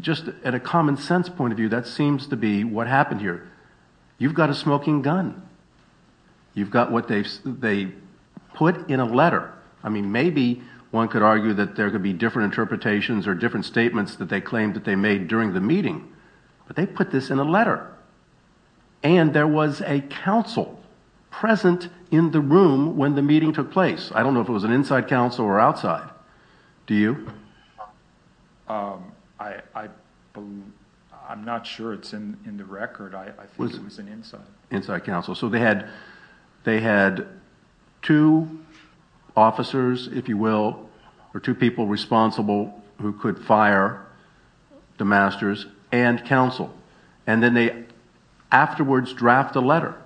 Just at a common sense point of view, that seems to be what happened here. You've got a smoking gun. You've got what they put in a letter. I mean, maybe one could argue that there could be different interpretations or different statements that they claimed that they made during the meeting. But they put this in a letter. And there was a counsel present in the room when the meeting took place. I don't know if it was an inside counsel or outside. Do you? I'm not sure it's in the record. I think it was an inside. Inside counsel. So they had two officers, if you will, or two people responsible who could fire the masters and counsel. And then they afterwards draft a letter.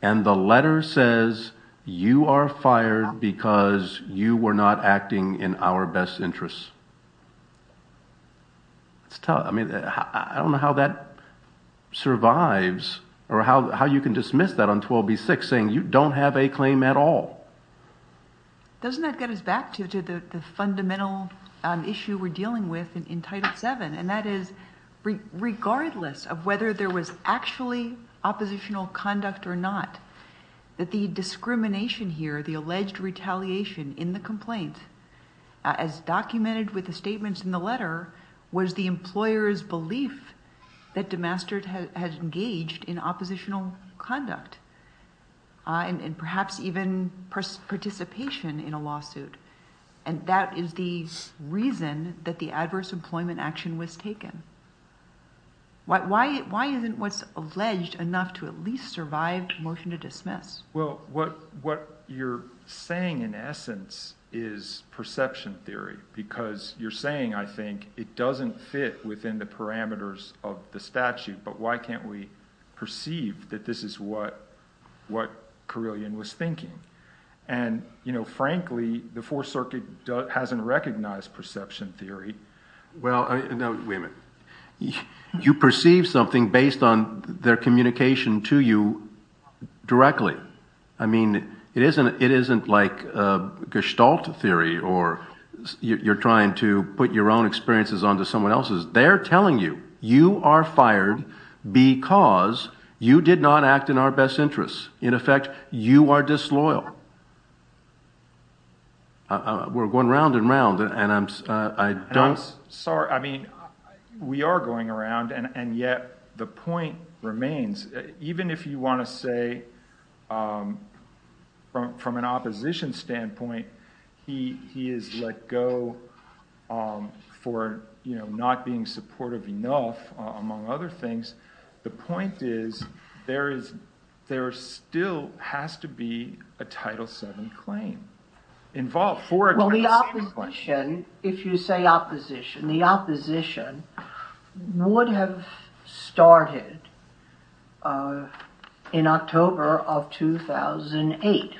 And the letter says, you are fired because you were not acting in our best interests. I don't know how that survives or how you can dismiss that on 12B6, saying you don't have a claim at all. Doesn't that get us back to the fundamental issue we're dealing with in Title VII, and that is regardless of whether there was actually oppositional conduct or not, that the discrimination here, the alleged retaliation in the complaint, as documented with the statements in the letter, was the employer's belief that DeMaster had engaged in oppositional conduct and perhaps even participation in a lawsuit. And that is the reason that the adverse employment action was taken. Why isn't what's alleged enough to at least survive a motion to dismiss? Well, what you're saying in essence is perception theory because you're saying, I think, it doesn't fit within the parameters of the statute, but why can't we perceive that this is what Carillion was thinking? And, frankly, the Fourth Circuit hasn't recognized perception theory. Well, no, wait a minute. You perceive something based on their communication to you directly. I mean, it isn't like Gestalt theory or you're trying to put your own experiences onto someone else's. They're telling you, you are fired because you did not act in our best interests. In effect, you are disloyal. We're going round and round, and I don't... I'm sorry. I mean, we are going around, and yet the point remains. Even if you want to say, from an opposition standpoint, he is let go for not being supportive enough, among other things. The point is, there still has to be a Title VII claim involved. Well, the opposition, if you say opposition, the opposition would have started in October of 2008,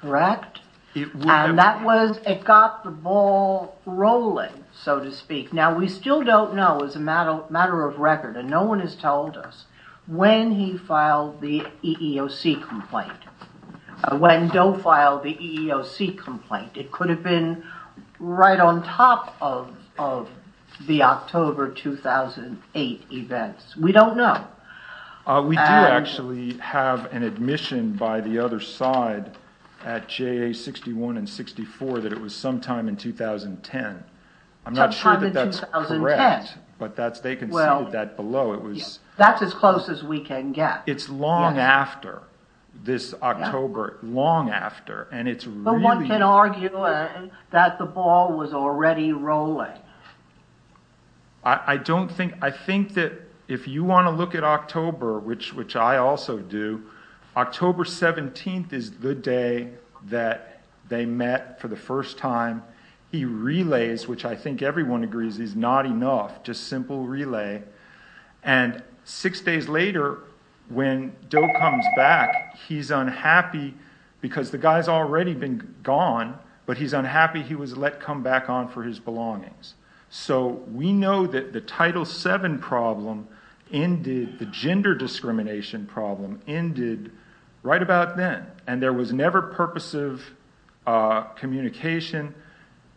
correct? And that was, it got the ball rolling, so to speak. Now, we still don't know as a matter of record, and no one has told us when he filed the EEOC complaint, when Doe filed the EEOC complaint. It could have been right on top of the October 2008 events. We don't know. We do actually have an admission by the other side at JA61 and 64 that it was sometime in 2010. I'm not sure that that's correct, but they can see that below. That's as close as we can get. It's long after this October, long after, and it's really... But one can argue that the ball was already rolling. I think that if you want to look at October, which I also do, October 17th is the day that they met for the first time. He relays, which I think everyone agrees is not enough, just simple relay, and six days later, when Doe comes back, he's unhappy because the guy's already been gone, but he's unhappy he was let come back on for his belongings. So we know that the Title VII problem ended, the gender discrimination problem ended right about then, and there was never purposive communication,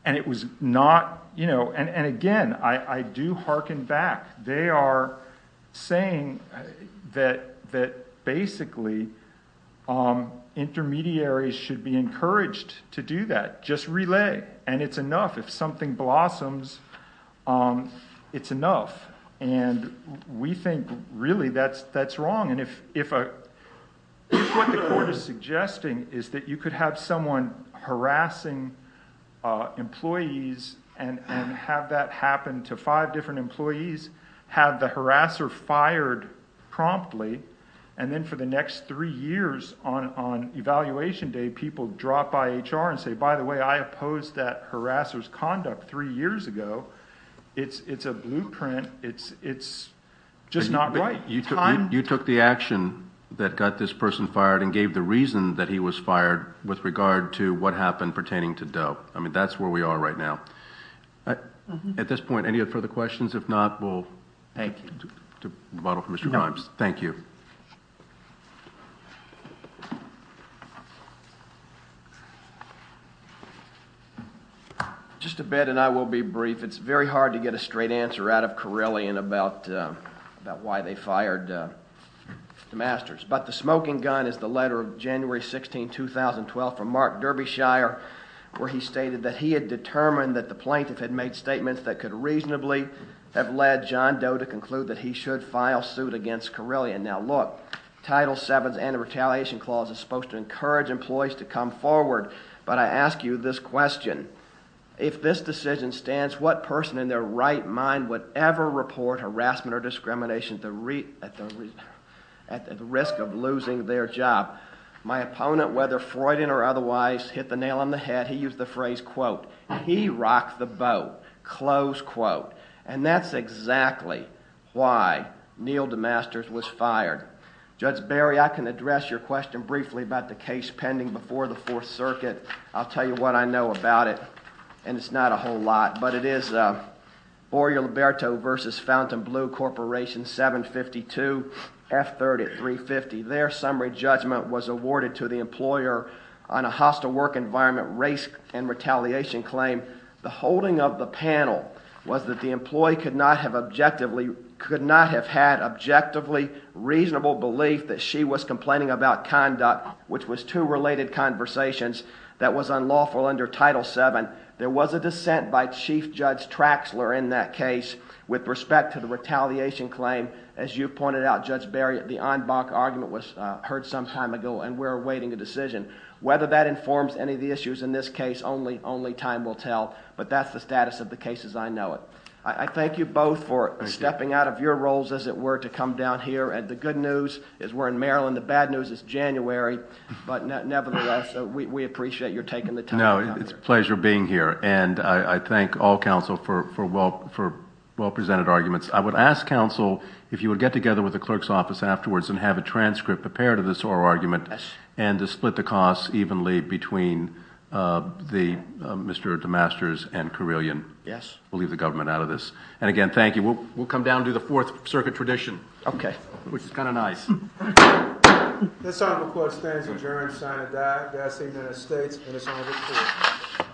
and it was not... And again, I do hearken back. They are saying that basically intermediaries should be encouraged to do that, just relay, and it's enough. If something blossoms, it's enough. And we think, really, that's wrong. What the court is suggesting is that you could have someone harassing employees and have that happen to five different employees, have the harasser fired promptly, and then for the next three years on evaluation day, people drop by HR and say, by the way, I opposed that harasser's conduct three years ago. It's a blueprint. It's just not right. You took the action that got this person fired and gave the reason that he was fired with regard to what happened pertaining to Doe. I mean, that's where we are right now. At this point, any further questions? If not, we'll take a bottle from Mr. Grimes. Thank you. Just a bit, and I will be brief. It's very hard to get a straight answer out of Corellian about why they fired the masters. But the smoking gun is the letter of January 16, 2012, from Mark Derbyshire, where he stated that he had determined that the plaintiff had made statements that could reasonably have led John Doe to conclude that he should file suit against Corellian. Now, look, Title VII's Anti-Retaliation Clause is supposed to encourage employees to come forward, but I ask you this question. If this decision stands, what person in their right mind would ever report harassment or discrimination at the risk of losing their job? My opponent, whether Freudian or otherwise, hit the nail on the head. He used the phrase, quote, he rocked the boat, close quote. And that's exactly why Neal DeMasters was fired. Judge Barry, I can address your question briefly about the case pending before the Fourth Circuit. I'll tell you what I know about it, and it's not a whole lot, but it is Borio-Liberto v. Fountain Blue Corporation, 752, F-30, 350. Their summary judgment was awarded to the employer on a hostile work environment, race, and retaliation claim. The holding of the panel was that the employee could not have had objectively reasonable belief that she was complaining about conduct, which was two related conversations that was unlawful under Title VII. There was a dissent by Chief Judge Traxler in that case with respect to the retaliation claim. As you pointed out, Judge Barry, the en banc argument was heard some time ago, and we're awaiting a decision. Whether that informs any of the issues in this case, only time will tell, but that's the status of the cases I know of. I thank you both for stepping out of your roles, as it were, to come down here, and the good news is we're in Maryland. The bad news is January, but nevertheless, we appreciate your taking the time. No, it's a pleasure being here, and I thank all counsel for well-presented arguments. I would ask counsel if you would get together with the clerk's office afterwards and have a transcript prepared of this oral argument and to split the costs evenly between Mr. DeMasters and Carillion. We'll leave the government out of this. And again, thank you. We'll come down and do the Fourth Circuit tradition, which is kind of nice. This item of court stands adjourned, signed and died. Godspeed to the United States.